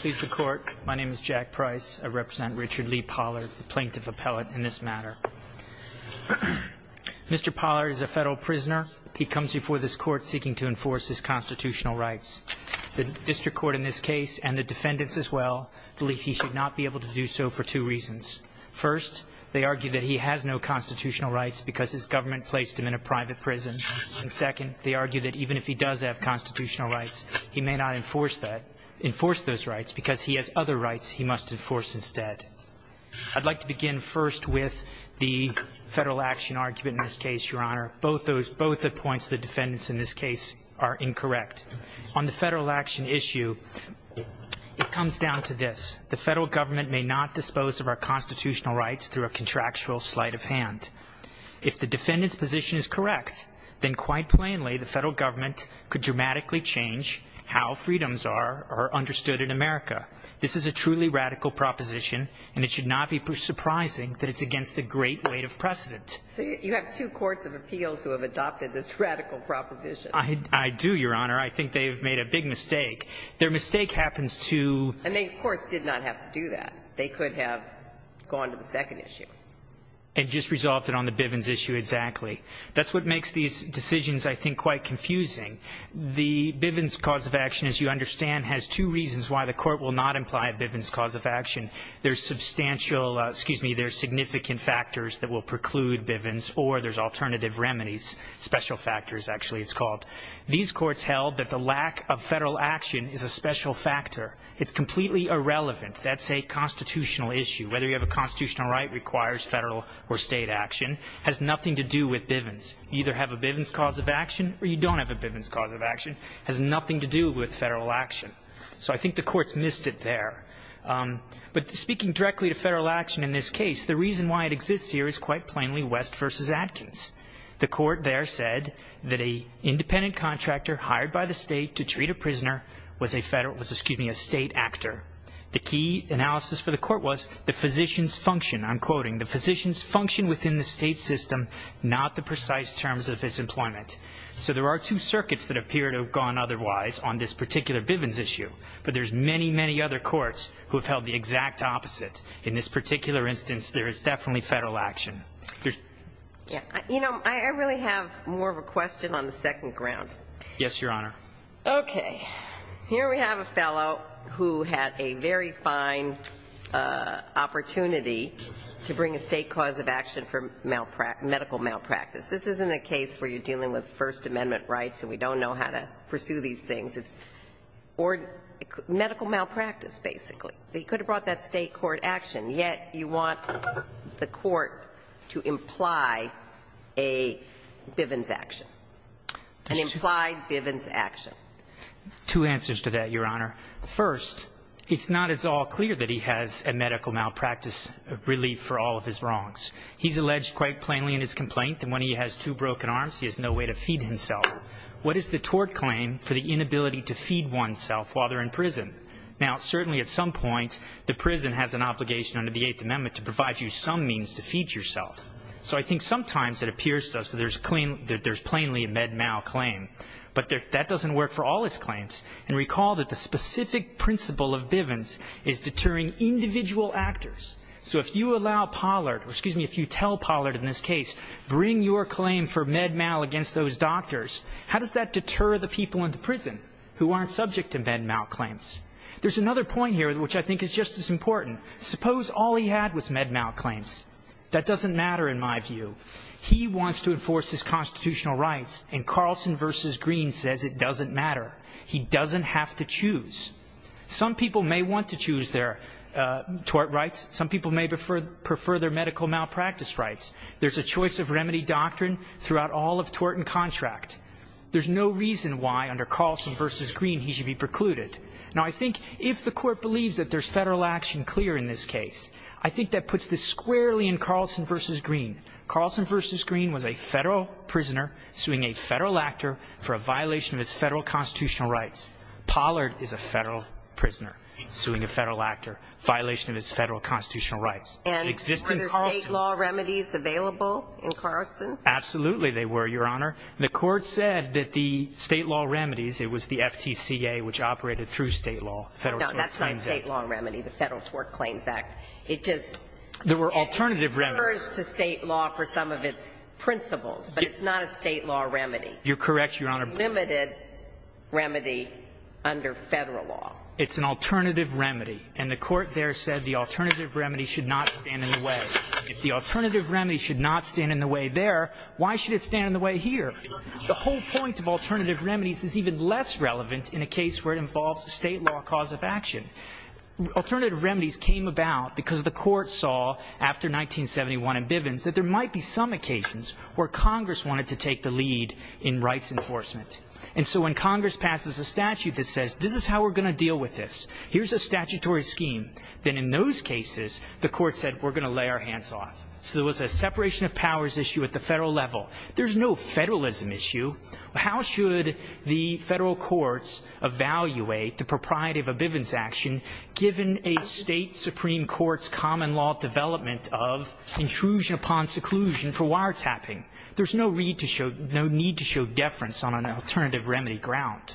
Please the court. My name is Jack Price. I represent Richard Lee Pollard, the plaintiff appellate in this matter. Mr. Pollard is a federal prisoner. He comes before this court seeking to enforce his constitutional rights. The district court in this case, and the defendants as well, believe he should not be able to do so for two reasons. First, they argue that he has no constitutional rights because his government placed him in a private prison. And second, they argue that even if he does have constitutional rights, he may not enforce those rights because he has other rights he must enforce instead. I'd like to begin first with the federal action argument in this case, Your Honor. Both the points of the defendants in this case are incorrect. On the federal action issue, it comes down to this. The federal government may not dispose of our constitutional rights through a contractual sleight of hand. If the defendant's position is correct, then quite plainly, the federal government could dramatically change how freedoms are understood in America. This is a truly radical proposition, and it should not be surprising that it's against the great weight of precedent. So you have two courts of appeals who have adopted this radical proposition. I do, Your Honor. I think they have made a big mistake. Their mistake happens to be the fact that the federal government may not dispose of our constitutional rights. And they, of course, did not have to do that. They could have gone to the second issue. And just resolved it on the Bivens issue exactly. That's what makes these decisions, I think, quite confusing. The Bivens cause of action, as you understand, has two reasons why the court will not imply a Bivens cause of action. There's substantial, excuse me, there's significant factors that will preclude Bivens, or there's alternative remedies. Special factors, actually, it's called. These courts held that the lack of federal action is a special factor. It's completely irrelevant. That's a constitutional issue. Whether you have a constitutional right requires federal or state action has nothing to do with Bivens. You either have a Bivens cause of action or you don't have a Bivens cause of action. It has nothing to do with federal action. So I think the courts missed it there. But speaking directly to federal action in this case, the reason why it exists here is quite plainly West v. Adkins. The court there said that an independent contractor hired by the state to treat a prisoner was a federal, excuse me, a state actor. The key analysis for the court was the physician's function. I'm quoting, the physician's function within the state system, not the precise terms of his employment. So there are two circuits that appear to have gone otherwise on this particular Bivens issue. But there's many, many other courts who have held the exact opposite. In this particular instance, there is definitely federal action. You know, I really have more of a question on the second ground. Yes, Your Honor. Okay. Here we have a fellow who had a very fine opportunity to bring a state cause of action for medical malpractice. This isn't a case where you're dealing with First Amendment rights and we don't know how to pursue these things. It's medical malpractice, basically. They could have brought that state court action. Yet you want the court to imply a Bivens action, an implied Bivens action. Two answers to that, Your Honor. First, it's not at all clear that he has a medical malpractice relief for all of his wrongs. He's alleged quite plainly in his complaint that when he has two broken arms, he has no way to feed himself. What is the tort claim for the inability to feed oneself while they're in prison? Now, certainly at some point, the prison has an obligation under the Eighth Amendment to provide you some means to feed yourself. So I think sometimes it appears to us that there's plainly a med mal claim. But that doesn't work for all his claims. And recall that the specific principle of Bivens is deterring individual actors. So if you allow Pollard, or excuse me, if you tell Pollard in this case, bring your claim for med mal against those doctors, how does that deter the people in the prison who aren't subject to med mal claims? There's another point here which I think is just as important. Suppose all he had was med mal claims. That doesn't matter in my view. He wants to enforce his constitutional rights, and Carlson v. Green says it doesn't matter. He doesn't have to choose. Some people may want to choose their tort rights. Some people may prefer their medical malpractice rights. There's a choice of remedy doctrine throughout all of tort and contract. There's no reason why under Carlson v. Green he should be precluded. Now, I think if the court believes that there's federal action clear in this case, I think that puts this squarely in Carlson v. Green. Carlson v. Green was a federal prisoner suing a federal actor for a violation of his federal constitutional rights. Pollard is a federal prisoner suing a federal actor, violation of his federal constitutional rights. And were there state law remedies available in Carlson? Absolutely they were, Your Honor. The court said that the state law remedies, it was the FTCA which operated through state law, the Federal Tort Claims Act. No, that's not a state law remedy, the Federal Tort Claims Act. It just refers to state law for some of its principles, but it's not a state law remedy. You're correct, Your Honor. A limited remedy under federal law. It's an alternative remedy. And the court there said the alternative remedy should not stand in the way. If the alternative remedy should not stand in the way there, why should it stand in the way here? The whole point of alternative remedies is even less relevant in a case where it involves a state law cause of action. Alternative remedies came about because the court saw after 1971 in Bivens that there might be some occasions where Congress wanted to take the lead in rights enforcement. And so when Congress passes a statute that says this is how we're going to deal with this, here's a statutory scheme, then in those cases the court said we're going to lay our hands off. So there was a separation of powers issue at the federal level. There's no federalism issue. How should the federal courts evaluate the propriety of a Bivens action given a state supreme court's common law development of intrusion upon seclusion for wiretapping? There's no need to show deference on an alternative remedy ground.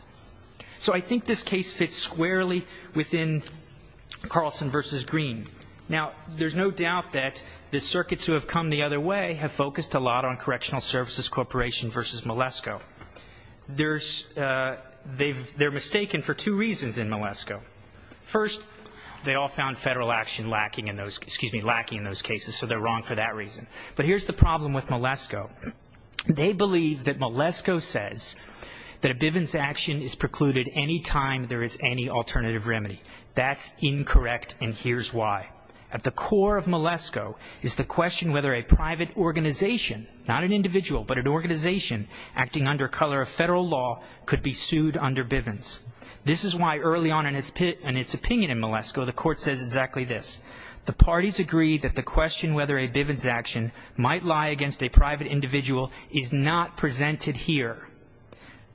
So I think this case fits squarely within Carlson v. Green. Now, there's no doubt that the circuits who have come the other way have focused a lot on Correctional Services Corporation v. Malesko. They're mistaken for two reasons in Malesko. First, they all found federal action lacking in those cases, so they're wrong for that reason. But here's the problem with Malesko. They believe that Malesko says that a Bivens action is precluded any time there is any alternative remedy. That's incorrect, and here's why. At the core of Malesko is the question whether a private organization, not an individual, but an organization acting under color of federal law could be sued under Bivens. This is why early on in its opinion in Malesko the court says exactly this. The parties agree that the question whether a Bivens action might lie against a private individual is not presented here.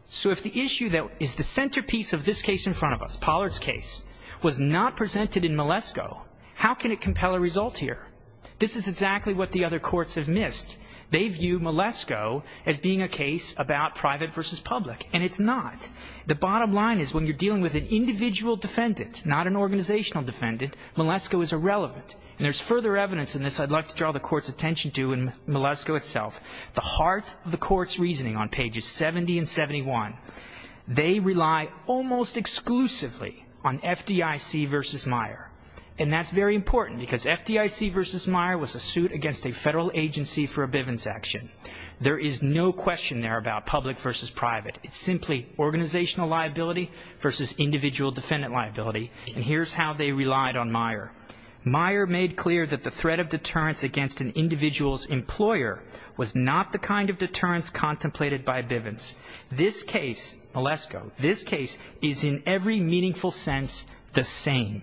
So if the issue that is the centerpiece of this case in front of us, Pollard's case, was not presented in Malesko, how can it compel a result here? This is exactly what the other courts have missed. They view Malesko as being a case about private versus public, and it's not. The bottom line is when you're dealing with an individual defendant, not an organizational defendant, Malesko is irrelevant, and there's further evidence in this I'd like to draw the court's attention to in Malesko itself. The heart of the court's reasoning on pages 70 and 71, they rely almost exclusively on FDIC versus Meyer, and that's very important because FDIC versus Meyer was a suit against a federal agency for a Bivens action. There is no question there about public versus private. It's simply organizational liability versus individual defendant liability, and here's how they relied on Meyer. Meyer made clear that the threat of deterrence against an individual's employer was not the kind of deterrence contemplated by Bivens. This case, Malesko, this case is in every meaningful sense the same.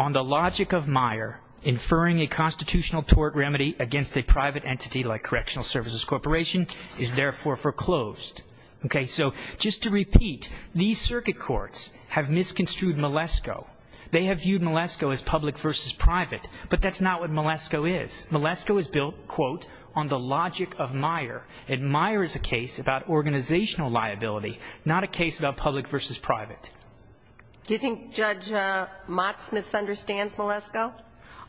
On the logic of Meyer, inferring a constitutional tort remedy against a private entity like Correctional Services Corporation is therefore foreclosed. Okay. So just to repeat, these circuit courts have misconstrued Malesko. They have viewed Malesko as public versus private, but that's not what Malesko is. Malesko is built, quote, on the logic of Meyer, and Meyer is a case about organizational liability, not a case about public versus private. Do you think Judge Motz misunderstands Malesko?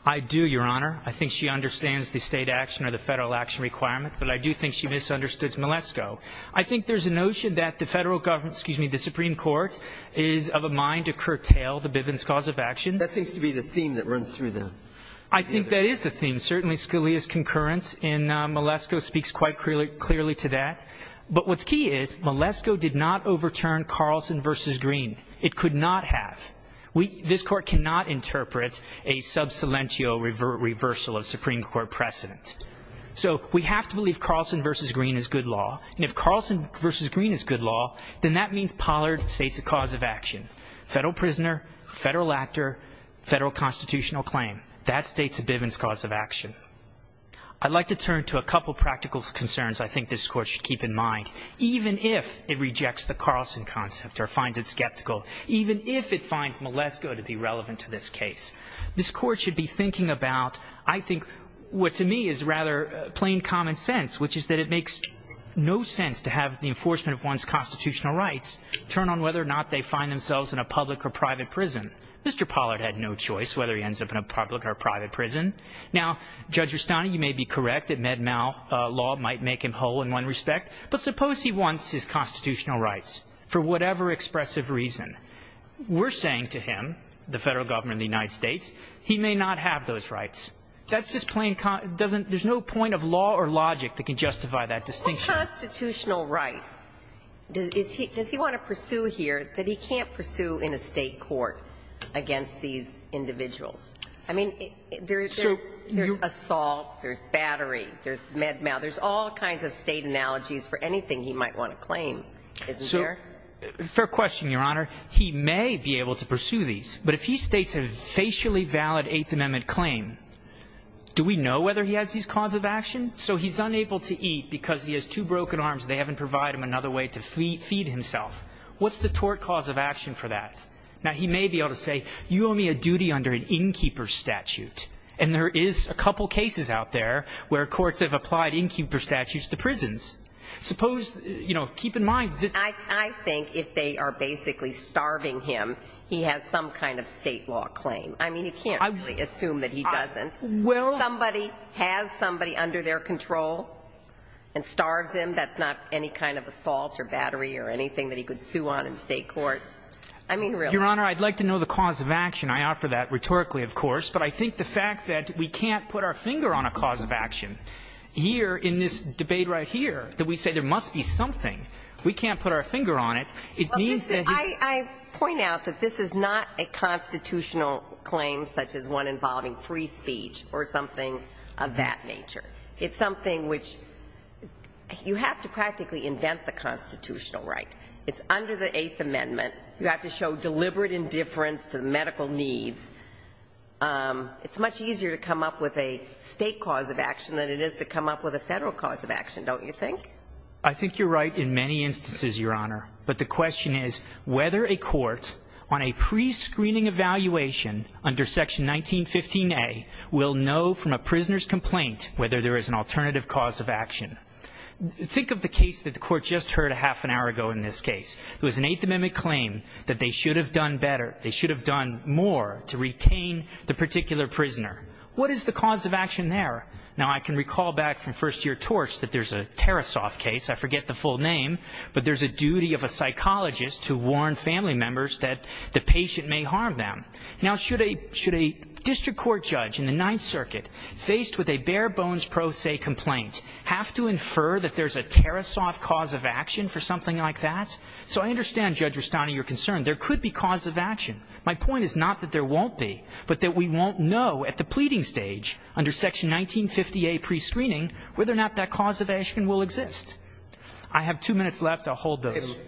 I do, Your Honor. I think she understands the state action or the federal action requirement, but I do think she misunderstood Malesko. I think there's a notion that the federal government, excuse me, the Supreme Court is of a mind to curtail the Bivens cause of action. That seems to be the theme that runs through them. I think that is the theme. Certainly Scalia's concurrence in Malesko speaks quite clearly to that. But what's key is Malesko did not overturn Carlson v. Green. It could not have. This Court cannot interpret a sub silentio reversal of Supreme Court precedent. So we have to believe Carlson v. Green is good law, and if Carlson v. Green is good law, then that means Pollard states a cause of action. Federal prisoner, federal actor, federal constitutional claim. That states a Bivens cause of action. I'd like to turn to a couple practical concerns I think this Court should keep in mind. Even if it rejects the Carlson concept or finds it skeptical, even if it finds Malesko to be relevant to this case, this Court should be thinking about I think what to me is rather plain common sense, which is that it makes no sense to have the enforcement of one's constitutional rights turn on whether or not they find themselves in a public or private prison. Mr. Pollard had no choice whether he ends up in a public or private prison. Now, Judge Rustani, you may be correct that Med-Mal law might make him whole in one respect, but suppose he wants his constitutional rights for whatever expressive reason. We're saying to him, the Federal Government of the United States, he may not have those rights. That's just plain common – there's no point of law or logic that can justify that distinction. What constitutional right does he want to pursue here that he can't pursue in a state court against these individuals? I mean, there's assault, there's battery, there's Med-Mal. There's all kinds of state analogies for anything he might want to claim, isn't there? Fair question, Your Honor. He may be able to pursue these, but if he states a facially valid Eighth Amendment claim, do we know whether he has these cause of action? So he's unable to eat because he has two broken arms and they haven't provided him another way to feed himself. What's the tort cause of action for that? Now, he may be able to say, you owe me a duty under an innkeeper statute, and there is a couple cases out there where courts have applied innkeeper statutes to prisons. Suppose, you know, keep in mind this – I think if they are basically starving him, he has some kind of state law claim. I mean, you can't really assume that he doesn't. Well – Somebody has somebody under their control and starves him. That's not any kind of assault or battery or anything that he could sue on in state court. I mean, really. Your Honor, I'd like to know the cause of action. I offer that rhetorically, of course, but I think the fact that we can't put our finger on a cause of action here in this debate right here, that we say there must be something. We can't put our finger on it. It means that he's – I point out that this is not a constitutional claim such as one involving free speech or something of that nature. It's something which you have to practically invent the constitutional right. It's under the Eighth Amendment. You have to show deliberate indifference to medical needs. It's much easier to come up with a state cause of action than it is to come up with a federal cause of action, don't you think? I think you're right in many instances, Your Honor. But the question is whether a court on a prescreening evaluation under Section 1915A will know from a prisoner's complaint whether there is an alternative cause of action. Think of the case that the court just heard a half an hour ago in this case. It was an Eighth Amendment claim that they should have done better. to retain the particular prisoner. What is the cause of action there? Now, I can recall back from first-year torts that there's a Tarasoff case. I forget the full name. But there's a duty of a psychologist to warn family members that the patient may harm them. Now, should a district court judge in the Ninth Circuit, faced with a bare-bones pro se complaint, have to infer that there's a Tarasoff cause of action for something like that? So I understand, Judge Rustani, your concern. There could be cause of action. My point is not that there won't be, but that we won't know at the pleading stage under Section 1950A prescreening whether or not that cause of action will exist. I have two minutes left. I'll hold those.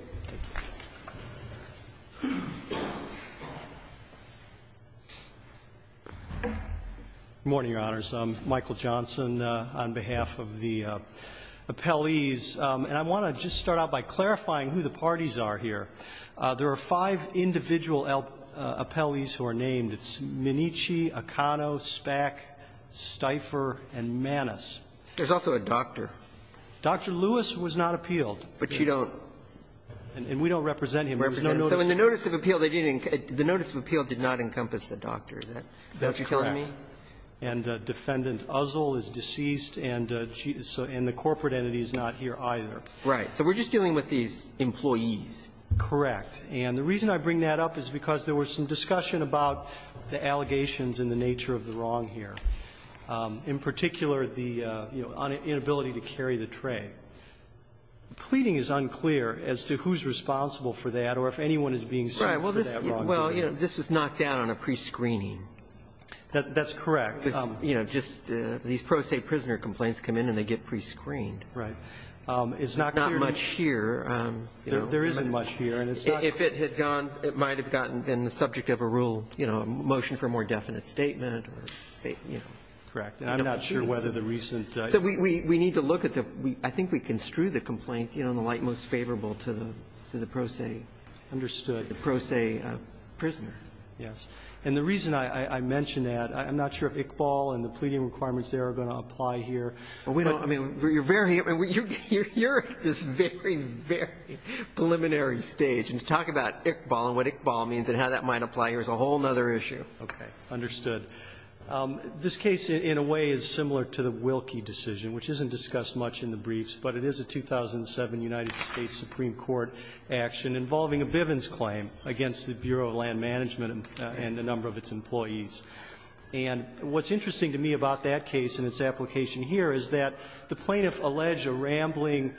Michael Johnson, on behalf of the appellees. And I want to just start out by clarifying who the parties are here. There are five individual appellees who are named. It's Minnici, Acano, Spack, Stifer, and Manis. There's also a doctor. Dr. Lewis was not appealed. But you don't? And we don't represent him. We have no notice. So in the notice of appeal, the notice of appeal did not encompass the doctor. Is that what you're telling me? That's correct. And Defendant Uzzle is deceased, and the corporate entity is not here either. So we're just dealing with these employees. Correct. And the reason I bring that up is because there was some discussion about the allegations and the nature of the wrong here. In particular, the, you know, inability to carry the tray. Pleading is unclear as to who's responsible for that or if anyone is being sued for that wrongdoing. Right. Well, this was knocked down on a prescreening. That's correct. You know, just these pro se prisoner complaints come in and they get prescreened. Right. It's not clear. There's not much here. There isn't much here. And it's not clear. If it had gone, it might have gotten in the subject of a rule, you know, a motion for a more definite statement or, you know. Correct. And I'm not sure whether the recent. So we need to look at the week. I think we construe the complaint, you know, in the light most favorable to the pro se. Understood. The pro se prisoner. Yes. And the reason I mention that, I'm not sure if Iqbal and the pleading requirements there are going to apply here. We don't. I mean, you're very. You're at this very, very preliminary stage. And to talk about Iqbal and what Iqbal means and how that might apply here is a whole other issue. Okay. Understood. This case in a way is similar to the Wilkie decision, which isn't discussed much in the briefs, but it is a 2007 United States Supreme Court action involving a Bivens claim against the Bureau of Land Management and a number of its employees. And what's interesting to me about that case and its application here is that the plaintiff alleged a rambling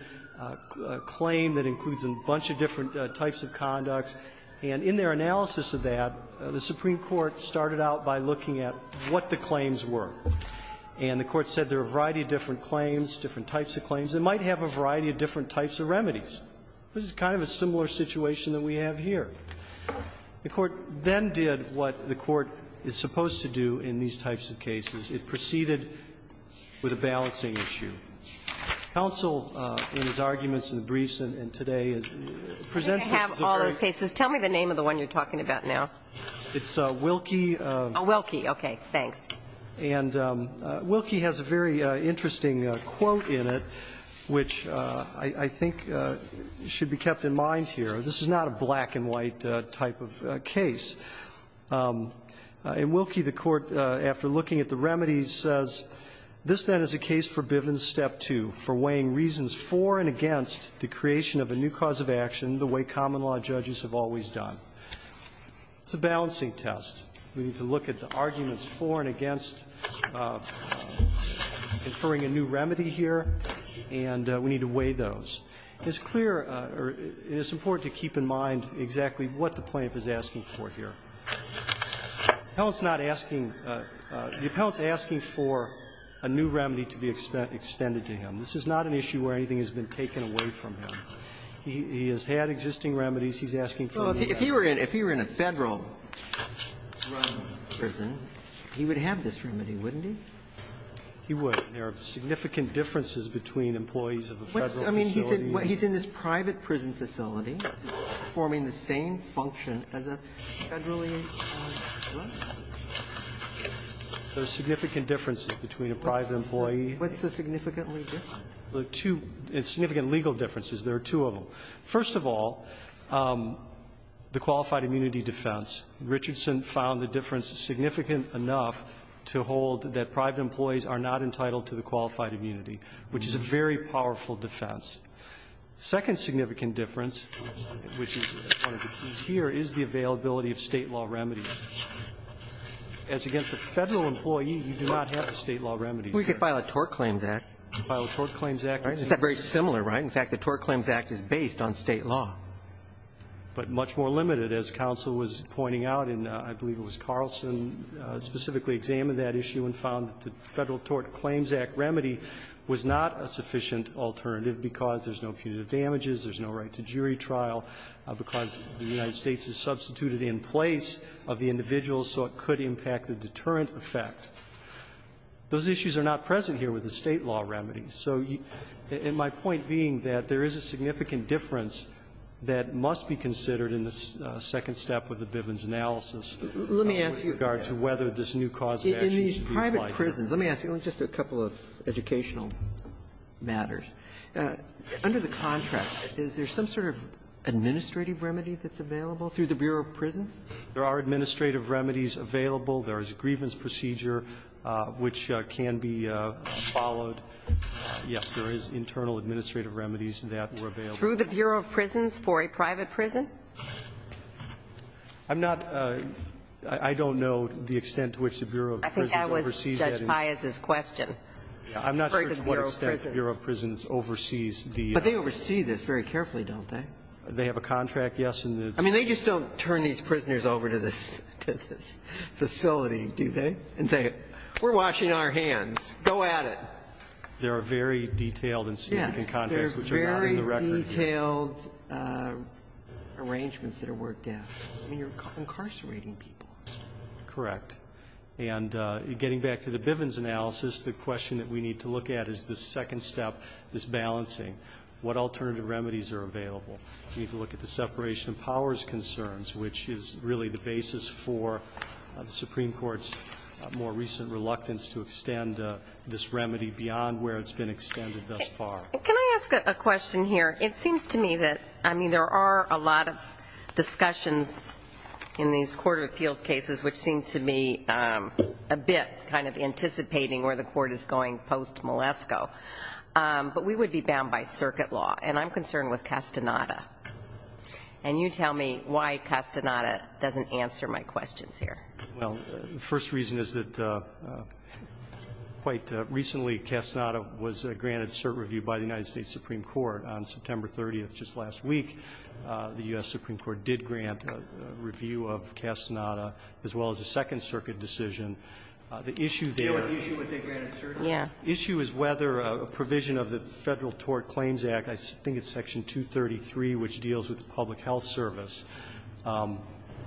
claim that includes a bunch of different types of conducts, and in their analysis of that, the Supreme Court started out by looking at what the claims were. And the Court said there are a variety of different claims, different types of claims. It might have a variety of different types of remedies. This is kind of a similar situation that we have here. The Court then did what the Court is supposed to do in these types of cases. It proceeded with a balancing issue. Counsel, in his arguments in the briefs and today, presents this as a very – I have all those cases. Tell me the name of the one you're talking about now. It's Wilkie. Oh, Wilkie. Okay. Thanks. And Wilkie has a very interesting quote in it, which I think should be kept in mind here. This is not a black-and-white type of case. In Wilkie, the Court, after looking at the remedies, says, This, then, is a case for Bivens Step 2, for weighing reasons for and against the creation of a new cause of action the way common law judges have always done. It's a balancing test. We need to look at the arguments for and against conferring a new remedy here, and we need to weigh those. It's clear, or it's important to keep in mind exactly what the plaintiff is asking for here. The appellant's not asking – the appellant's asking for a new remedy to be extended to him. This is not an issue where anything has been taken away from him. He has had existing remedies. He's asking for a new remedy. Well, if he were in a Federal prison, he would have this remedy, wouldn't he? He would. There are significant differences between employees of a Federal facility. I mean, he's in this private prison facility performing the same function as a Federally employed person. There are significant differences between a private employee. What's so significantly different? There are two significant legal differences. There are two of them. First of all, the qualified immunity defense. Richardson found the difference significant enough to hold that private employees are not entitled to the qualified immunity, which is a very powerful defense. The second significant difference, which is one of the keys here, is the availability of State law remedies. As against a Federal employee, you do not have the State law remedies. We could file a Tort Claims Act. File a Tort Claims Act. It's not very similar, right? In fact, the Tort Claims Act is based on State law. But much more limited, as counsel was pointing out, and I believe it was Carlson who specifically examined that issue and found that the Federal Tort Claims Act remedy was not a sufficient alternative because there's no punitive damages, there's no right to jury trial, because the United States has substituted in place of the individual so it could impact the deterrent effect. Those issues are not present here with the State law remedies. So my point being that there is a significant difference that must be considered in the second step of the Bivens analysis. Let me ask you. In regards to whether this new cause of action should be applied here. In these private prisons, let me ask you just a couple of educational matters. Under the contract, is there some sort of administrative remedy that's available through the Bureau of Prisons? There are administrative remedies available. There is a grievance procedure which can be followed. Yes, there is internal administrative remedies that were available. Through the Bureau of Prisons for a private prison? I'm not, I don't know the extent to which the Bureau of Prisons oversees that. I think that was Judge Pius's question. I'm not sure to what extent the Bureau of Prisons oversees the. But they oversee this very carefully, don't they? They have a contract, yes. I mean, they just don't turn these prisoners over to this facility, do they? And say, we're washing our hands. Go at it. There are very detailed and significant contracts which are not in the record. Very detailed arrangements that are worked out. I mean, you're incarcerating people. Correct. And getting back to the Bivens analysis, the question that we need to look at is the second step, this balancing. What alternative remedies are available? We need to look at the separation of powers concerns, which is really the basis for the Supreme Court's more recent reluctance to extend this remedy beyond where it's been extended thus far. Can I ask a question here? It seems to me that, I mean, there are a lot of discussions in these court of appeals cases which seem to me a bit kind of anticipating where the court is going post-Malesko. But we would be bound by circuit law. And I'm concerned with Castaneda. And you tell me why Castaneda doesn't answer my questions here. Well, the first reason is that quite recently, Castaneda was granted cert review by the United States Supreme Court. On September 30th, just last week, the U.S. Supreme Court did grant a review of Castaneda as well as a Second Circuit decision. The issue there is whether a provision of the Federal Tort Claims Act, I think it's Section 233, which deals with the public health service,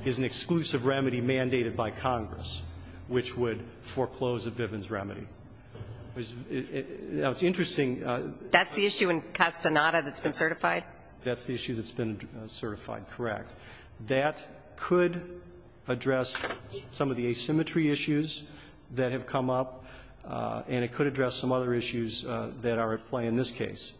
is an exclusive remedy mandated by Congress which would foreclose a Bivens remedy. Now, it's interesting. That's the issue in Castaneda that's been certified? That's the issue that's been certified, correct. That could address some of the asymmetry issues that have come up, and it could address some other issues that are at play in this case.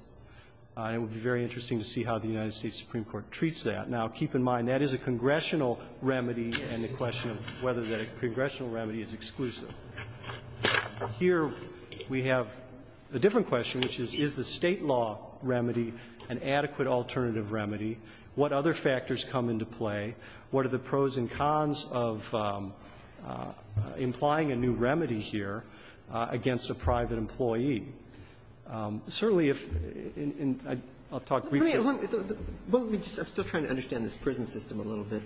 And it would be very interesting to see how the United States Supreme Court treats that. Now, keep in mind, that is a congressional remedy, and the question of whether that congressional remedy is exclusive. Here, we have a different question, which is, is the State law remedy an adequate alternative remedy? What other factors come into play? What are the pros and cons of implying a new remedy here against a private employee? Certainly, if in the end, I'll talk briefly. I'm still trying to understand this prison system a little bit,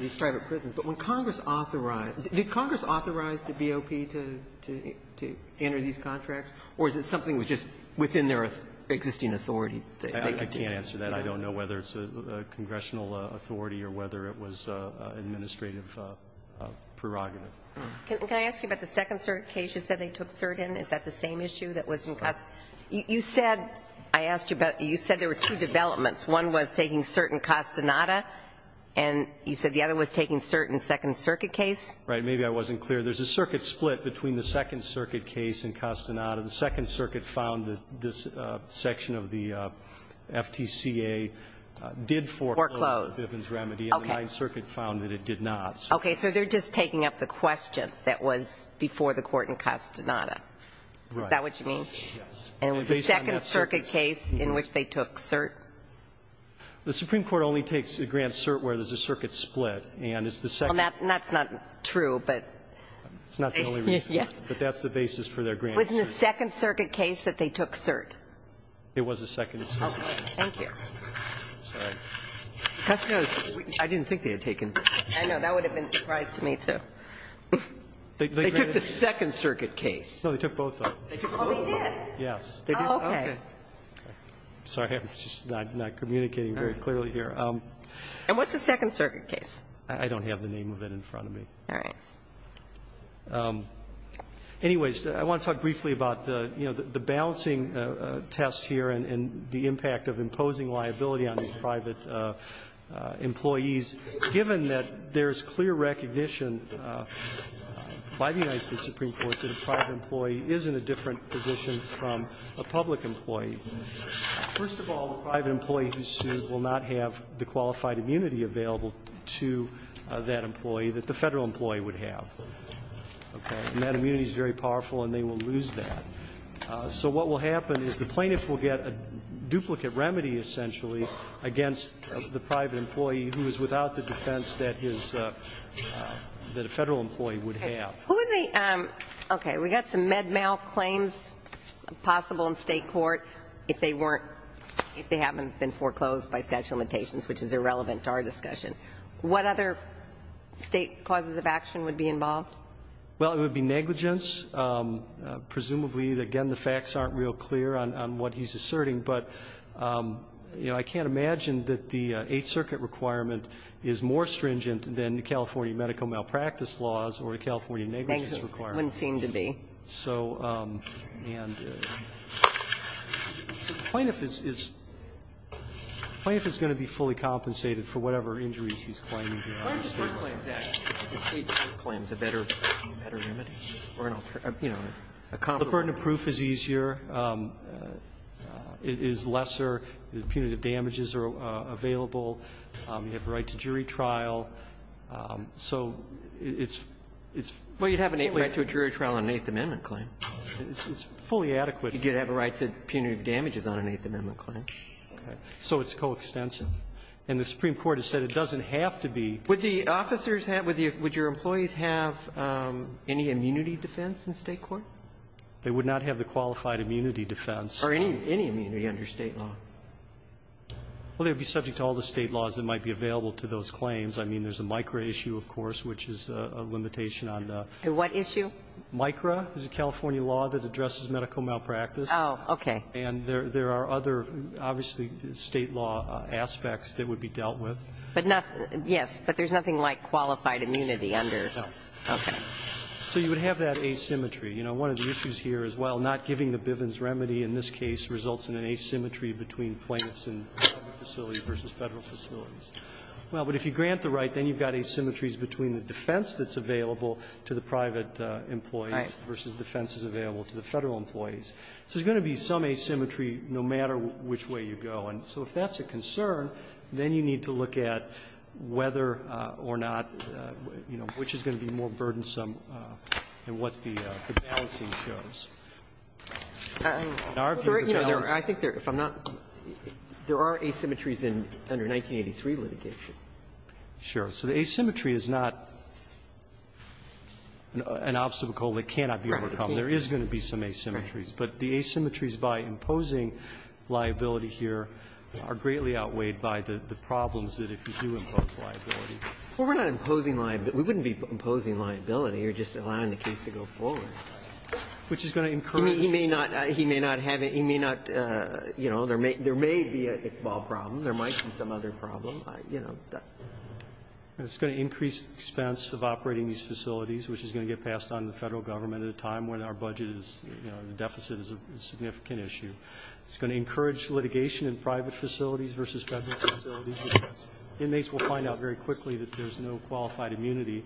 these private prisons. But when Congress authorized, did Congress authorize the BOP to enter these contracts? Or is it something that was just within their existing authority? I can't answer that. I don't know whether it's a congressional authority or whether it was an administrative prerogative. Can I ask you about the second cert case? You said they took cert in. Is that the same issue that was in Castaneda? You said, I asked you about, you said there were two developments. One was taking cert in Castaneda, and you said the other was taking cert in the Second Circuit case? Right. Maybe I wasn't clear. There's a circuit split between the Second Circuit case and Castaneda. The Second Circuit found that this section of the FTCA did foreclose a Bivens remedy. Foreclosed. Okay. And the Ninth Circuit found that it did not. Okay. So they're just taking up the question that was before the court in Castaneda. Right. Is that what you mean? Yes. And was the Second Circuit case in which they took cert? The Supreme Court only takes a grant cert where there's a circuit split. And it's the second. That's not true, but. It's not the only reason. Yes. But that's the basis for their grant cert. Wasn't the Second Circuit case that they took cert? It was the Second Circuit. Okay. Thank you. Sorry. Castaneda, I didn't think they had taken. I know. That would have been a surprise to me, too. They took the Second Circuit case. No, they took both, though. Oh, they did? Yes. Oh, okay. Sorry. I'm just not communicating very clearly here. And what's the Second Circuit case? I don't have the name of it in front of me. All right. Anyways, I want to talk briefly about the balancing test here and the impact of imposing liability on these private employees, given that there's clear recognition by the United States Supreme Court that a private employee is in a different position from a public employee. First of all, the private employee who's sued will not have the qualified immunity available to that employee that the Federal employee would have. Okay. And that immunity is very powerful, and they will lose that. So what will happen is the plaintiff will get a duplicate remedy, essentially, against the private employee who is without the defense that his – that a Federal employee would have. Okay. Who are the – okay. We've got some med mal claims possible in State court if they weren't – if they haven't been foreclosed by statute of limitations, which is irrelevant to our discussion. What other State causes of action would be involved? Well, it would be negligence. Presumably, again, the facts aren't real clear on what he's asserting, but, you know, I can't imagine that the Eighth Circuit requirement is more stringent than the California medical malpractice laws or the California negligence requirement. Thank you. It wouldn't seem to be. So – and the plaintiff is – the plaintiff is going to be fully compensated for whatever injuries he's claiming here. Why don't you just reclaim that? The State court claims a better remedy or, you know, a comparable one. The proof is easier. It is lesser. Punitive damages are available. You have a right to jury trial. So it's – it's – Well, you'd have a right to a jury trial on an Eighth Amendment claim. It's fully adequate. You did have a right to punitive damages on an Eighth Amendment claim. Okay. So it's coextensive. And the Supreme Court has said it doesn't have to be. Would the officers have – would your employees have any immunity defense in State court? They would not have the qualified immunity defense. Or any immunity under State law? Well, they would be subject to all the State laws that might be available to those claims. I mean, there's a MICRA issue, of course, which is a limitation on the – What issue? MICRA is a California law that addresses medical malpractice. Oh, okay. And there are other, obviously, State law aspects that would be dealt with. But not – yes, but there's nothing like qualified immunity under – No. Okay. So you would have that asymmetry. You know, one of the issues here is, well, not giving the Bivens remedy in this case results in an asymmetry between plaintiffs and public facilities versus Federal facilities. Well, but if you grant the right, then you've got asymmetries between the defense that's available to the private employees versus defenses available to the Federal employees. So there's going to be some asymmetry no matter which way you go. And so if that's a concern, then you need to look at whether or not, you know, which is going to be more burdensome than what the balancing shows. In our view, the balance of the issue is that there are asymmetries under 1983 litigation. Sure. So the asymmetry is not an obstacle that cannot be overcome. There is going to be some asymmetries. But the asymmetries by imposing liability here are greatly outweighed by the problems that if you do impose liability. Well, we're not imposing liability. We wouldn't be imposing liability. We're just allowing the case to go forward. Which is going to encourage. He may not have it. He may not, you know, there may be an Iqbal problem. There might be some other problem. You know. It's going to increase the expense of operating these facilities, which is going to get passed on to the Federal government at a time when our budget is, you know, the deficit is a significant issue. It's going to encourage litigation in private facilities versus Federal facilities. Inmates will find out very quickly that there's no qualified immunity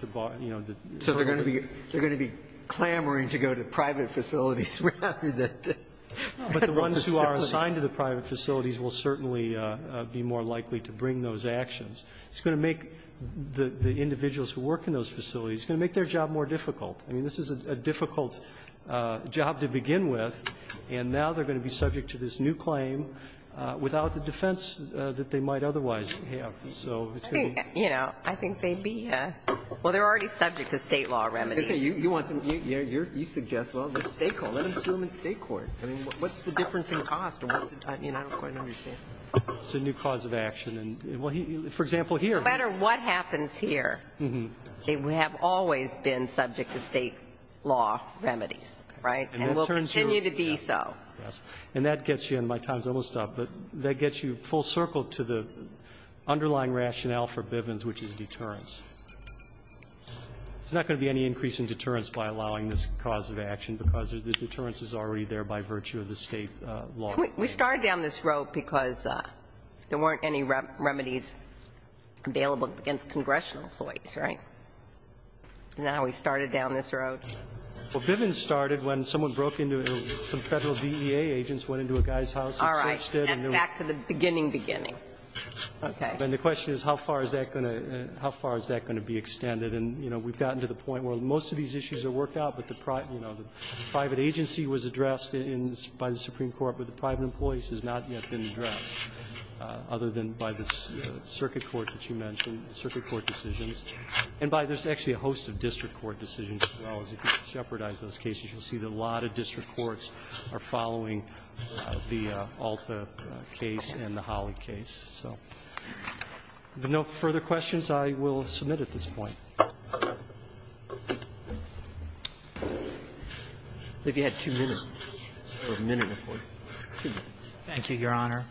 to bar, you know. So they're going to be clamoring to go to private facilities rather than to Federal facilities. But the ones who are assigned to the private facilities will certainly be more likely to bring those actions. It's going to make the individuals who work in those facilities, it's going to make their job more difficult. I mean, this is a difficult job to begin with, and now they're going to be subject to this new claim without the defense that they might otherwise have. So it's going to be. I think, you know, I think they'd be, well, they're already subject to State law remedies. You want them, you suggest, well, let them sue them in State court. I mean, what's the difference in cost? I mean, I don't quite understand. It's a new cause of action. For example, here. No matter what happens here, they have always been subject to State law remedies, right? And will continue to be so. And that gets you, and my time is almost up, but that gets you full circle to the underlying rationale for Bivens, which is deterrence. There's not going to be any increase in deterrence by allowing this cause of action because the deterrence is already there by virtue of the State law. We started down this road because there weren't any remedies available against congressional employees, right? Isn't that how we started down this road? Well, Bivens started when someone broke into, some Federal DEA agents went into a guy's house and searched it and there was no remedy. All right. That's back to the beginning, beginning. Okay. And the question is how far is that going to, how far is that going to be extended? And, you know, we've gotten to the point where most of these issues are worked out, but the private, you know, the private agency was addressed by the Supreme Court, but the private employees has not yet been addressed, other than by the circuit court that you mentioned, the circuit court decisions. And by the way, there's actually a host of district court decisions as well. If you shepherdize those cases, you'll see that a lot of district courts are following the Alta case and the Holly case. So with no further questions, I will submit at this point. I think you had two minutes or a minute before. Thank you, Your Honor.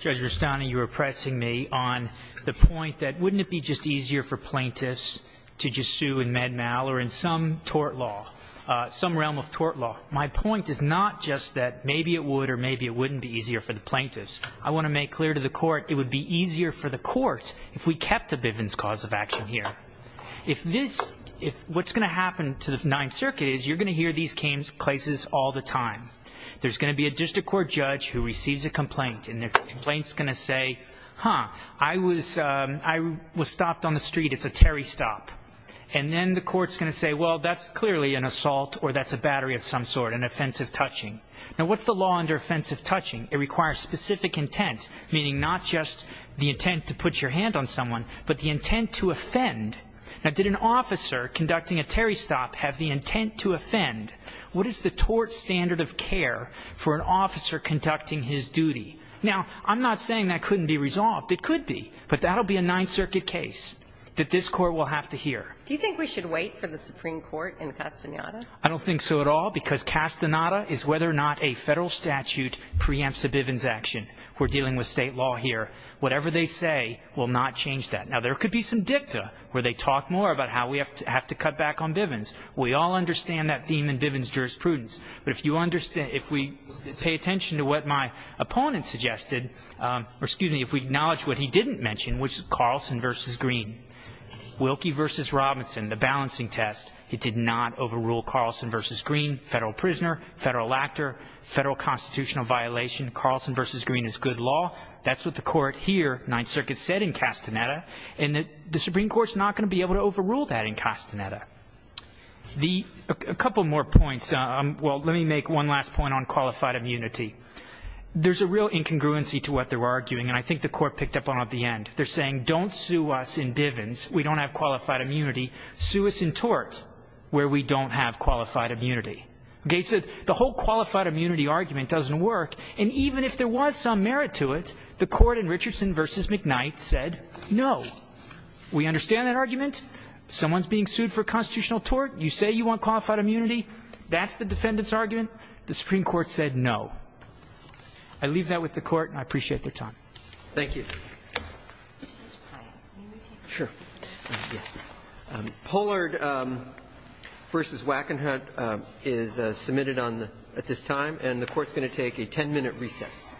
Judge Rastani, you were pressing me on the point that wouldn't it be just easier for plaintiffs to just sue in Med-Mal or in some tort law, some realm of tort law. My point is not just that maybe it would or maybe it wouldn't be easier for the plaintiffs. I want to make clear to the court it would be easier for the court if we kept the Bivens cause of action here. If this, if what's going to happen to the Ninth Circuit is you're going to hear these cases all the time. There's going to be a district court judge who receives a complaint, and the And then the court's going to say, well, that's clearly an assault or that's a battery of some sort, an offensive touching. Now, what's the law under offensive touching? It requires specific intent, meaning not just the intent to put your hand on someone, but the intent to offend. Now, did an officer conducting a Terry stop have the intent to offend? What is the tort standard of care for an officer conducting his duty? Now, I'm not saying that couldn't be resolved. It could be. But that will be a Ninth Circuit case that this court will have to hear. Do you think we should wait for the Supreme Court in Castaneda? I don't think so at all, because Castaneda is whether or not a federal statute preempts a Bivens action. We're dealing with state law here. Whatever they say will not change that. Now, there could be some dicta where they talk more about how we have to cut back on Bivens. We all understand that theme in Bivens jurisprudence. But if you understand, if we pay attention to what my opponent suggested, or excuse me, if we acknowledge what he didn't mention, which is Carlson v. Green, Wilkie v. Robinson, the balancing test, it did not overrule Carlson v. Green, federal prisoner, federal actor, federal constitutional violation. Carlson v. Green is good law. That's what the court here, Ninth Circuit, said in Castaneda. And the Supreme Court is not going to be able to overrule that in Castaneda. A couple more points. Well, let me make one last point on qualified immunity. There's a real incongruency to what they're arguing, and I think the court picked up on it at the end. They're saying, don't sue us in Bivens. We don't have qualified immunity. Sue us in tort where we don't have qualified immunity. Okay, so the whole qualified immunity argument doesn't work. And even if there was some merit to it, the court in Richardson v. McKnight said no. We understand that argument. Someone's being sued for constitutional tort. You say you want qualified immunity. That's the defendant's argument. The Supreme Court said no. I leave that with the Court, and I appreciate their time. Thank you. Pollard v. Wackenhut is submitted at this time. And the Court's going to take a 10-minute recess.